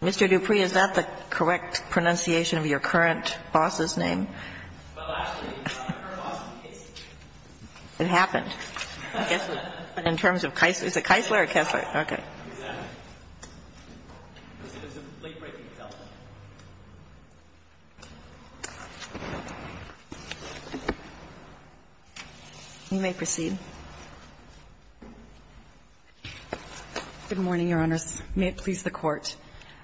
Mr. Dupree, is that the correct pronunciation of your current boss's name? Well, actually, it's not a current boss's name. It happened, I guess, in terms of Keisler. Is it Keisler or Kessler? Okay. Exactly. It's a late-breaking development. You may proceed. Good morning, Your Honors. May it please the Court.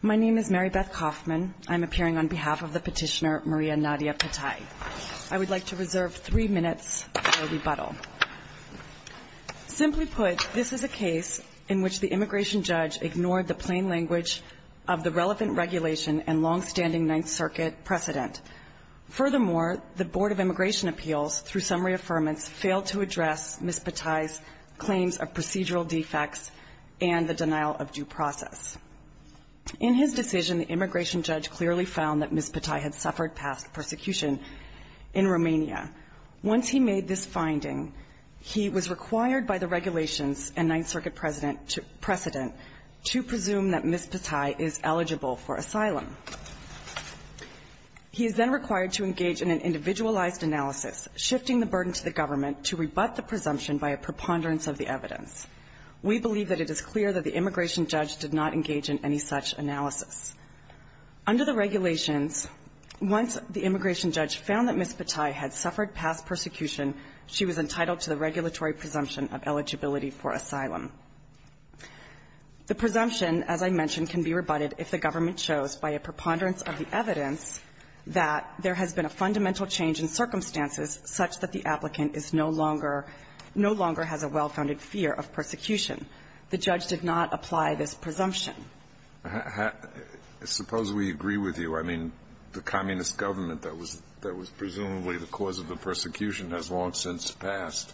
My name is Mary Beth Kaufman. I'm appearing on behalf of the petitioner, Maria Nadia Petai. I would like to reserve three minutes for rebuttal. Simply put, this is a case in which the immigration judge ignored the plain language of the relevant regulation and long-standing Ninth Circuit precedent. Furthermore, the Board of Immigration Appeals, through summary affirmance, failed to address Ms. Petai's claims of procedural defects and the denial of due process. In his decision, the immigration judge clearly found that Ms. Petai had suffered past persecution in Romania. Once he made this finding, he was required by the regulations and Ninth Circuit precedent to presume that Ms. Petai is eligible for asylum. He is then required to engage in an individualized analysis, shifting the burden to the government to rebut the presumption by a preponderance of the evidence. We believe that it is clear that the immigration judge did not engage in any such analysis. Under the regulations, once the immigration judge found that Ms. Petai had suffered past persecution, she was entitled to the regulatory presumption of eligibility for asylum. The presumption, as I mentioned, can be rebutted if the government chose, by a preponderance of the evidence, that there has been a fundamental change in circumstances such that the applicant is no longer no longer has a well-founded fear of persecution. The judge did not apply this presumption. Alitoso, I suppose we agree with you. I mean, the communist government that was presumably the cause of the persecution has long since passed.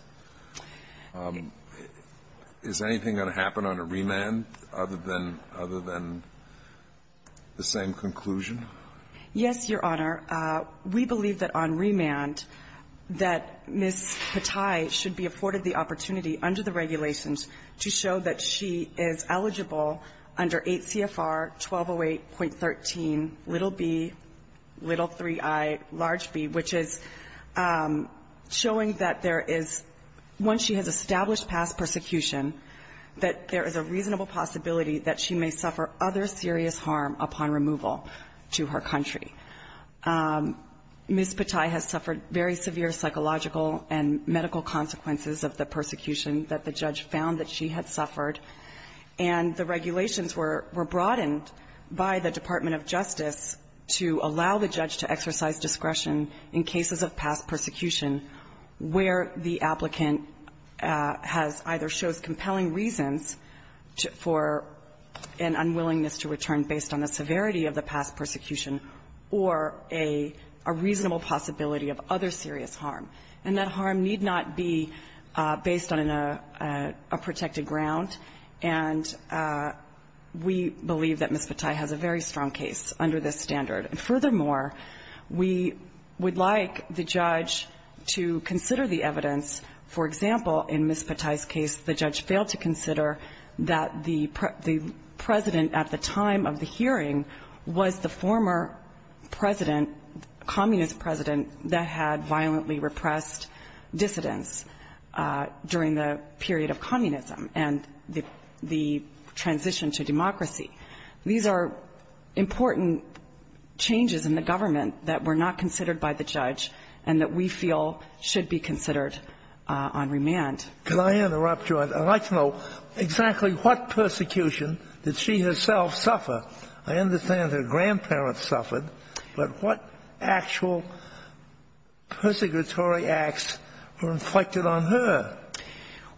Is anything going to happen on a remand other than other than the same conclusion? Yes, Your Honor. We believe that on remand that Ms. Petai should be afforded the opportunity under the regulations to show that she is eligible under 8 CFR 1208.13 little 3I large B, which is showing that there is, once she has established past persecution, that there is a reasonable possibility that she may suffer other serious harm upon removal to her country. Ms. Petai has suffered very severe psychological and medical consequences of the persecution that the judge found that she had suffered. And the regulations were broadened by the Department of Justice to allow the judge to exercise discretion in cases of past persecution where the applicant has either shows compelling reasons for an unwillingness to return based on the severity of the past persecution or a reasonable possibility of other serious harm. And that harm need not be based on a protected ground. And we believe that Ms. Petai has a very strong case under this standard. And furthermore, we would like the judge to consider the evidence. For example, in Ms. Petai's case, the judge failed to consider that the president at the time of the hearing was the former president, a communist president that had violently repressed dissidents during the period of communism and the transition to democracy. These are important changes in the government that were not considered by the judge and that we feel should be considered on remand. Can I interrupt you? I'd like to know exactly what persecution did she herself suffer? I understand her grandparents suffered, but what actual persecutory acts were inflicted on her?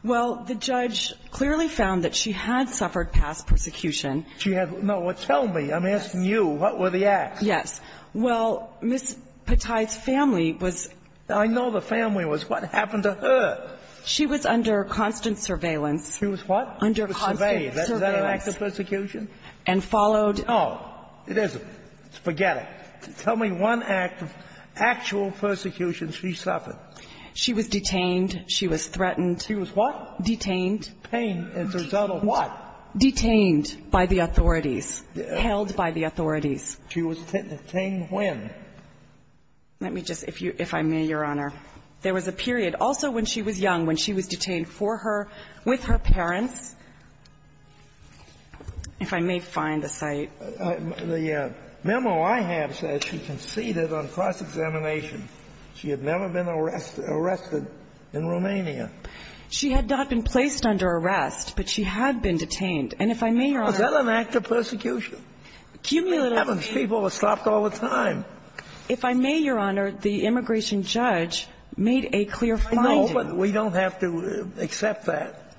Well, the judge clearly found that she had suffered past persecution. She had no one tell me. I'm asking you what were the acts? Yes. Well, Ms. Petai's family was. I know the family was. What happened to her? She was under constant surveillance. She was what? Under constant surveillance. Was that an act of persecution? And followed. No, it isn't. Forget it. Tell me one act of actual persecution she suffered. She was detained. She was threatened. She was what? Detained. Detained as a result of what? Detained by the authorities. Held by the authorities. She was detained when? Let me just, if I may, Your Honor. There was a period also when she was young, when she was detained for her, with her The memo I have says she conceded on cross-examination. She had never been arrested in Romania. She had not been placed under arrest, but she had been detained. And if I may, Your Honor. Was that an act of persecution? Cumulatively. People were stopped all the time. If I may, Your Honor, the immigration judge made a clear finding. I know, but we don't have to accept that.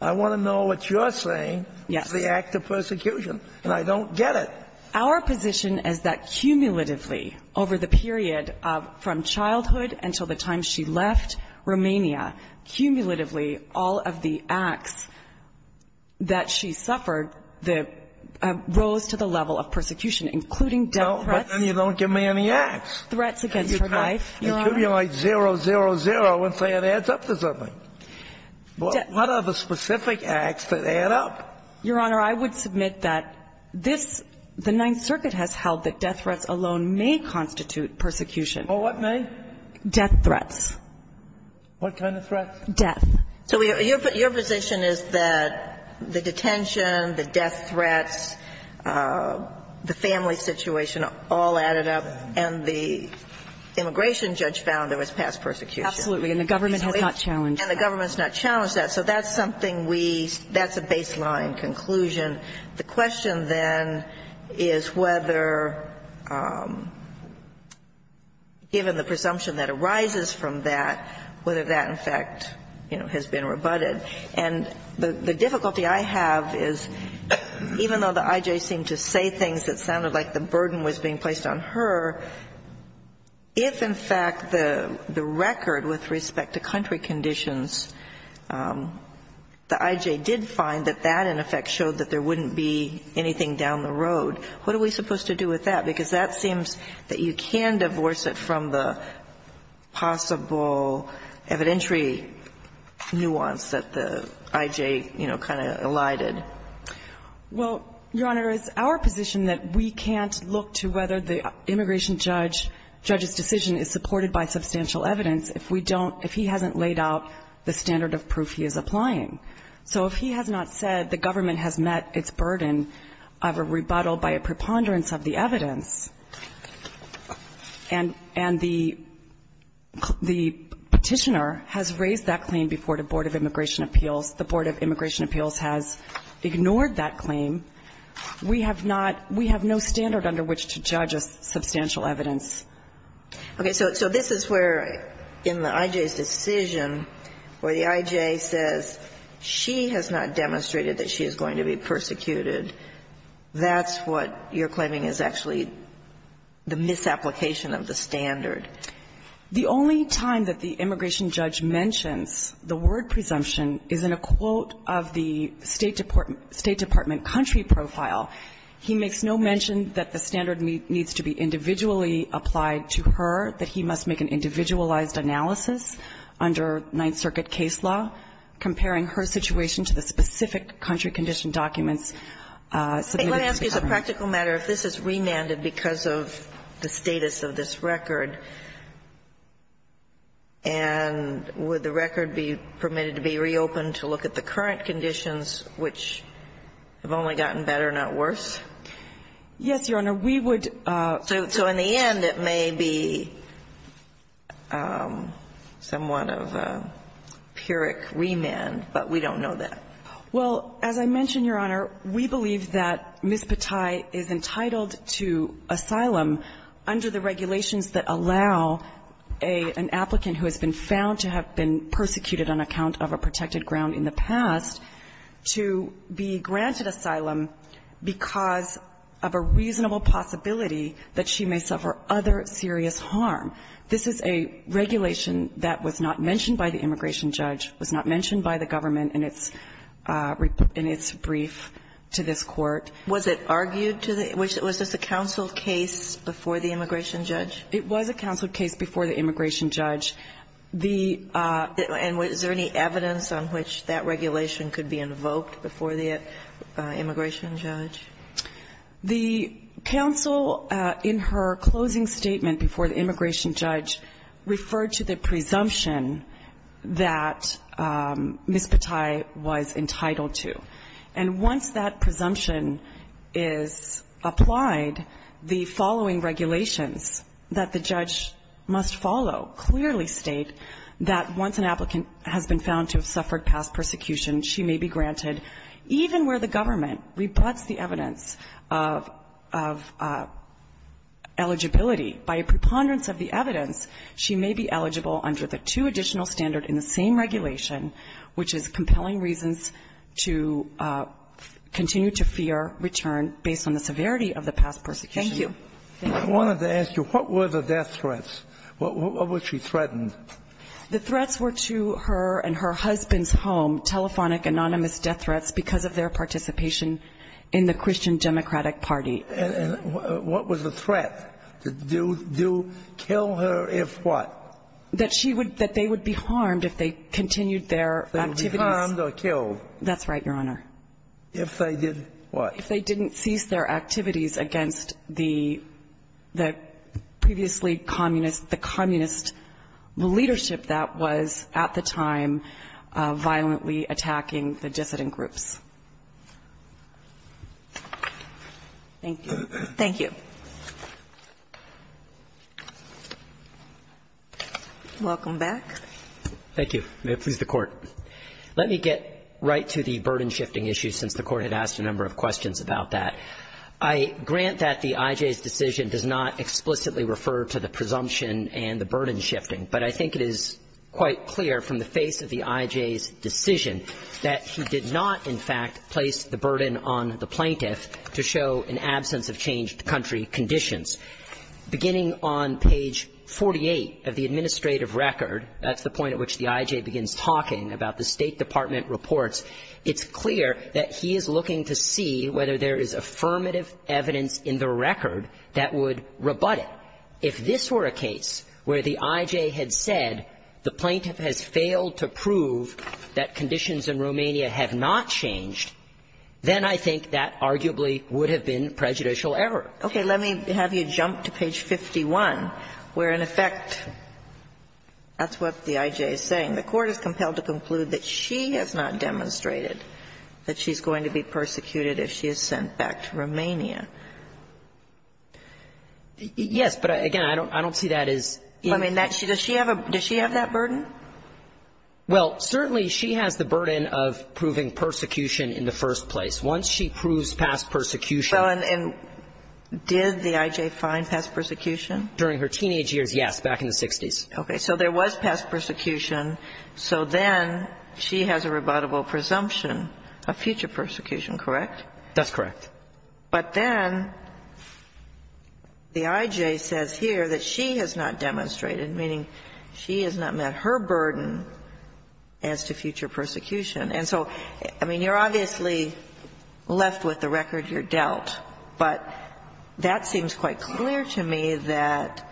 I want to know what you're saying. Yes. It's the act of persecution, and I don't get it. Our position is that cumulatively, over the period from childhood until the time she left Romania, cumulatively, all of the acts that she suffered rose to the level of persecution, including death threats. No, but then you don't give me any acts. Threats against her life, Your Honor. You cumulate zero, zero, zero, and say it adds up to something. What are the specific acts that add up? Your Honor, I would submit that this, the Ninth Circuit has held that death threats alone may constitute persecution. Or what may? Death threats. What kind of threats? Death. So your position is that the detention, the death threats, the family situation all added up, and the immigration judge found there was past persecution. Absolutely, and the government has not challenged that. And the government's not challenged that. So that's something we, that's a baseline conclusion. The question then is whether, given the presumption that arises from that, whether that, in fact, you know, has been rebutted. And the difficulty I have is, even though the I.J. seemed to say things that sounded like the burden was being placed on her, if, in fact, the record with respect to country conditions, the I.J. did find that that, in effect, showed that there wouldn't be anything down the road. What are we supposed to do with that? Because that seems that you can divorce it from the possible evidentiary nuance that the I.J., you know, kind of elided. Well, Your Honor, it's our position that we can't look to whether the immigration judge, judge's decision is supported by substantial evidence if we don't, if he hasn't laid out the standard of proof he is applying. So if he has not said the government has met its burden of a rebuttal by a preponderance of the evidence, and the petitioner has raised that claim before the Board of Immigration Appeals, the Board of Immigration Appeals has ignored that claim, we have not we have no standard under which to judge a substantial evidence. Okay. So this is where, in the I.J.'s decision, where the I.J. says she has not demonstrated that she is going to be persecuted, that's what you're claiming is actually the misapplication of the standard. The only time that the immigration judge mentions the word presumption is in a quote of the State Department, State Department country profile. He makes no mention that the standard needs to be individually applied to her, that he must make an individualized analysis under Ninth Circuit case law, comparing her situation to the specific country condition documents submitted to the government. Let me ask you as a practical matter, if this is remanded because of the status of this record, and would the record be permitted to be reopened to look at the current conditions, which have only gotten better, not worse? Yes, Your Honor. We would, so in the end, it may be somewhat of a pyrrhic remand, but we don't know that. Well, as I mentioned, Your Honor, we believe that Ms. Patai is entitled to asylum under the regulations that allow an applicant who has been found to have been persecuted on account of a protected ground in the past to be granted asylum because of a reasonable possibility that she may suffer other serious harm. This is a regulation that was not mentioned by the immigration judge, was not mentioned by the government in its brief to this Court. Was it argued to the – was this a counsel case before the immigration judge? It was a counsel case before the immigration judge. The – And is there any evidence on which that regulation could be invoked before the immigration judge? The counsel in her closing statement before the immigration judge referred to the presumption that Ms. Patai was entitled to. And once that presumption is applied, the following regulations that the judge must follow clearly state that once an applicant has been found to have suffered past persecution, she may be granted, even where the government rebuts the evidence of eligibility, by a preponderance of the evidence, she may be eligible under the two additional in the same regulation, which is compelling reasons to continue to fear return based on the severity of the past persecution. Thank you. I wanted to ask you, what were the death threats? What was she threatened? The threats were to her and her husband's home, telephonic anonymous death threats because of their participation in the Christian Democratic Party. And what was the threat? To do – kill her if what? That she would – that they would be harmed if they continued their activities. If they would be harmed or killed. That's right, Your Honor. If they did what? If they didn't cease their activities against the previously communist – the communist leadership that was at the time violently attacking the dissident groups. Thank you. Thank you. Welcome back. Thank you. May it please the Court. Let me get right to the burden shifting issue since the Court had asked a number of questions about that. I grant that the I.J.'s decision does not explicitly refer to the presumption and the burden shifting, but I think it is quite clear from the face of the I.J.'s decision that he did not, in fact, place the burden on the plaintiff to show an absence of changed country conditions. Beginning on page 48 of the administrative record – that's the point at which the I.J. begins talking about the State Department reports – it's clear that he is looking to see whether there is affirmative evidence in the record that would rebut it. If this were a case where the I.J. had said the plaintiff has failed to prove that conditions in Romania have not changed, then I think that arguably would have been prejudicial error. Okay. Let me have you jump to page 51, where, in effect, that's what the I.J. is saying. The Court is compelled to conclude that she has not demonstrated that she's going to be persecuted if she is sent back to Romania. Yes, but, again, I don't see that as – I mean, does she have that burden? Well, certainly, she has the burden of proving persecution in the first place. Once she proves past persecution – Well, and did the I.J. find past persecution? During her teenage years, yes, back in the 60s. Okay. So there was past persecution. So then she has a rebuttable presumption of future persecution, correct? That's correct. But then the I.J. says here that she has not demonstrated, meaning she has not met her burden, as to future persecution. And so, I mean, you're obviously left with the record you're dealt, but that seems quite clear to me that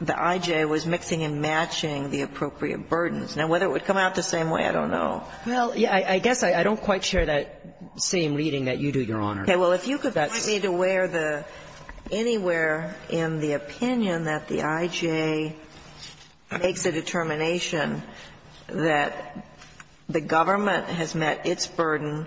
the I.J. was mixing and matching the appropriate burdens. Now, whether it would come out the same way, I don't know. Well, I guess I don't quite share that same reading that you do, Your Honor. Okay. Well, if you could point me to where the – anywhere in the opinion that the I.J. makes a determination that the government has met its burden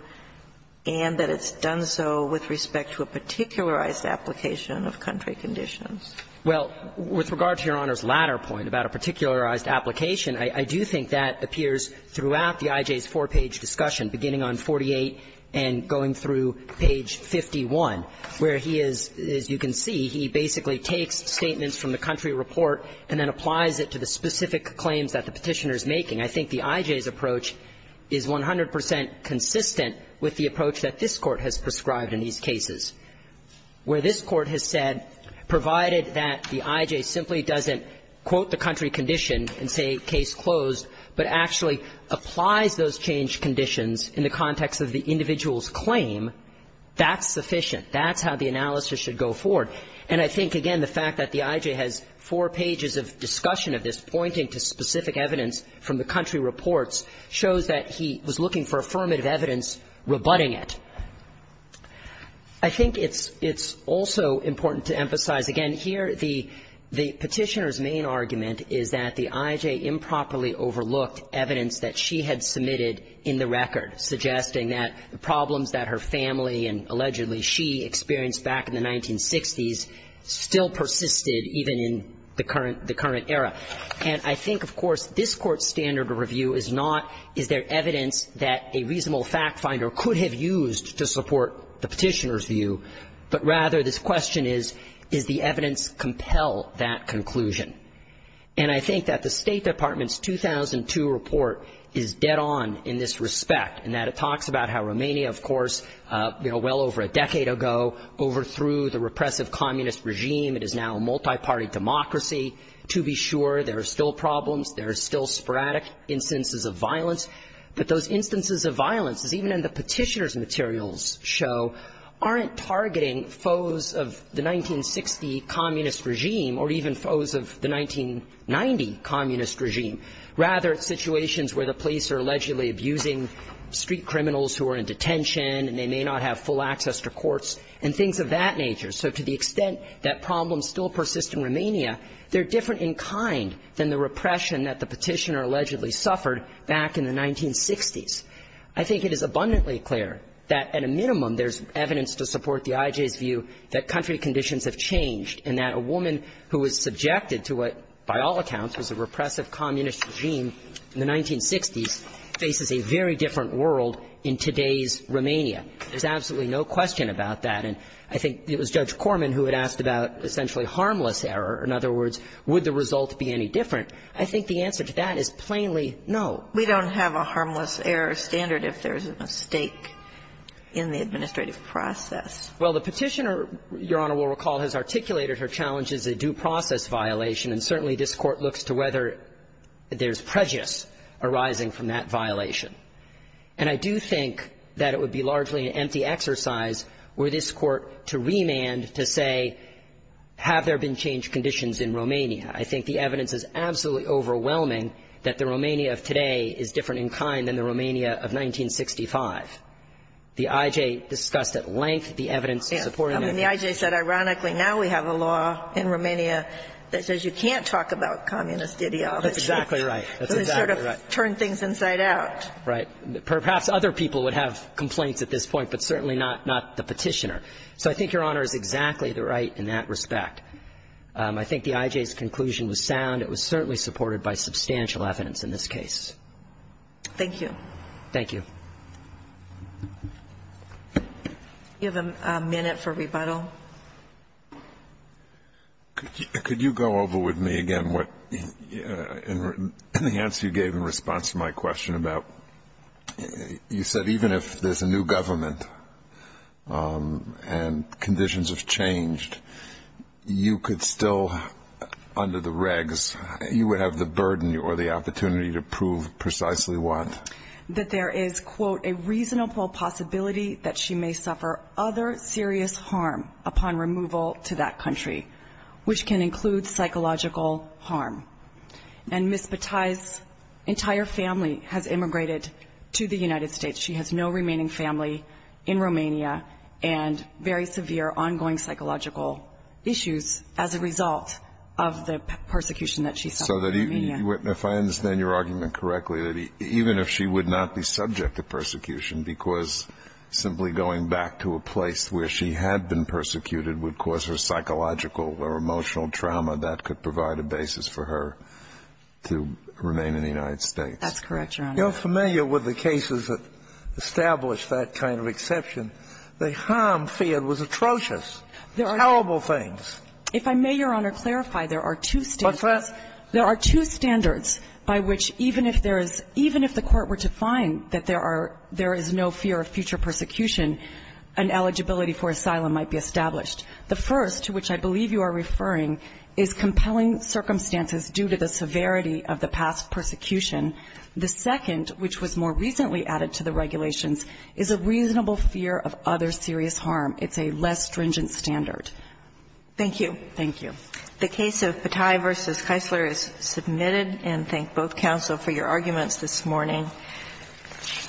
and that it's done so with respect to a particularized application of country conditions. Well, with regard to Your Honor's latter point about a particularized application, I do think that appears throughout the I.J.'s four-page discussion, beginning on 48 and going through page 51, where he is, as you can see, he basically takes statements from the country report and then applies it to the specific claims that the Petitioner is making. I think the I.J.'s approach is 100 percent consistent with the approach that this Court has prescribed in these cases, where this Court has said, provided that the I.J. simply doesn't quote the country condition and say case closed, but actually applies those changed conditions in the context of the individual's claim, that's sufficient. That's how the analysis should go forward. And I think, again, the fact that the I.J. has four pages of discussion of this pointing to specific evidence from the country reports shows that he was looking for affirmative evidence rebutting it. I think it's also important to emphasize, again, here the Petitioner's main argument is that the I.J. improperly overlooked evidence that she had submitted in the record, suggesting that the problems that her family and allegedly she experienced back in the 1960s still persisted even in the current era. And I think, of course, this Court's standard of review is not, is there evidence that a reasonable fact-finder could have used to support the Petitioner's view, but rather this question is, does the evidence compel that conclusion? And I think that the State Department's 2002 report is dead on in this respect, in that it talks about how Romania, of course, you know, well over a decade ago overthrew the repressive communist regime. It is now a multi-party democracy. To be sure, there are still problems. There are still sporadic instances of violence. But those instances of violence, as even in the Petitioner's materials show, aren't targeting foes of the 1960 communist regime or even foes of the 1990 communist regime. Rather, it's situations where the police are allegedly abusing street criminals who are in detention and they may not have full access to courts and things of that nature. So to the extent that problems still persist in Romania, they're different in kind than the repression that the Petitioner allegedly suffered back in the 1960s. I think it is abundantly clear that at a minimum there's evidence to support the IJ's view that country conditions have changed and that a woman who was subjected to what, by all accounts, was a repressive communist regime in the 1960s faces a very different world in today's Romania. There's absolutely no question about that. And I think it was Judge Corman who had asked about essentially harmless error. In other words, would the result be any different? I think the answer to that is plainly no. We don't have a harmless error standard if there's a mistake in the administrative process. Well, the Petitioner, Your Honor will recall, has articulated her challenge as a due process violation, and certainly this Court looks to whether there's prejudice arising from that violation. And I do think that it would be largely an empty exercise were this Court to remand to say, have there been changed conditions in Romania? I think the evidence is absolutely overwhelming that the Romania of today is different in kind than the Romania of 1965. The IJ discussed at length the evidence supporting it. I mean, the IJ said, ironically, now we have a law in Romania that says you can't talk about communist ideology. That's exactly right. That's exactly right. And they sort of turned things inside out. Right. Perhaps other people would have complaints at this point, but certainly not the Petitioner. So I think Your Honor is exactly right in that respect. I think the IJ's conclusion was sound. It was certainly supported by substantial evidence in this case. Thank you. Thank you. Do you have a minute for rebuttal? Could you go over with me again what the answer you gave in response to my question about you said even if there's a new government and conditions have changed, you could still, under the regs, you would have the burden or the opportunity to prove precisely what? That there is, quote, a reasonable possibility that she may suffer other serious harm upon removal to that country, which can include psychological harm. And Ms. Batae's entire family has immigrated to the United States. She has no remaining family in Romania and very severe ongoing psychological issues as a result of the persecution that she suffered in Romania. So if I understand your argument correctly, that even if she would not be subject to persecution because simply going back to a place where she had been persecuted would cause her psychological or emotional trauma, that could provide a basis for her to remain in the United States. That's correct, Your Honor. I'm not familiar with the cases that establish that kind of exception. The harm feared was atrocious, terrible things. If I may, Your Honor, clarify, there are two standards. What's that? There are two standards by which even if there is, even if the Court were to find that there are, there is no fear of future persecution, an eligibility for asylum might be established. The first, to which I believe you are referring, is compelling circumstances due to the severity of the past persecution. The second, which was more recently added to the regulations, is a reasonable fear of other serious harm. It's a less stringent standard. Thank you. Thank you. The case of Patai v. Keisler is submitted. And thank both counsel for your arguments this morning.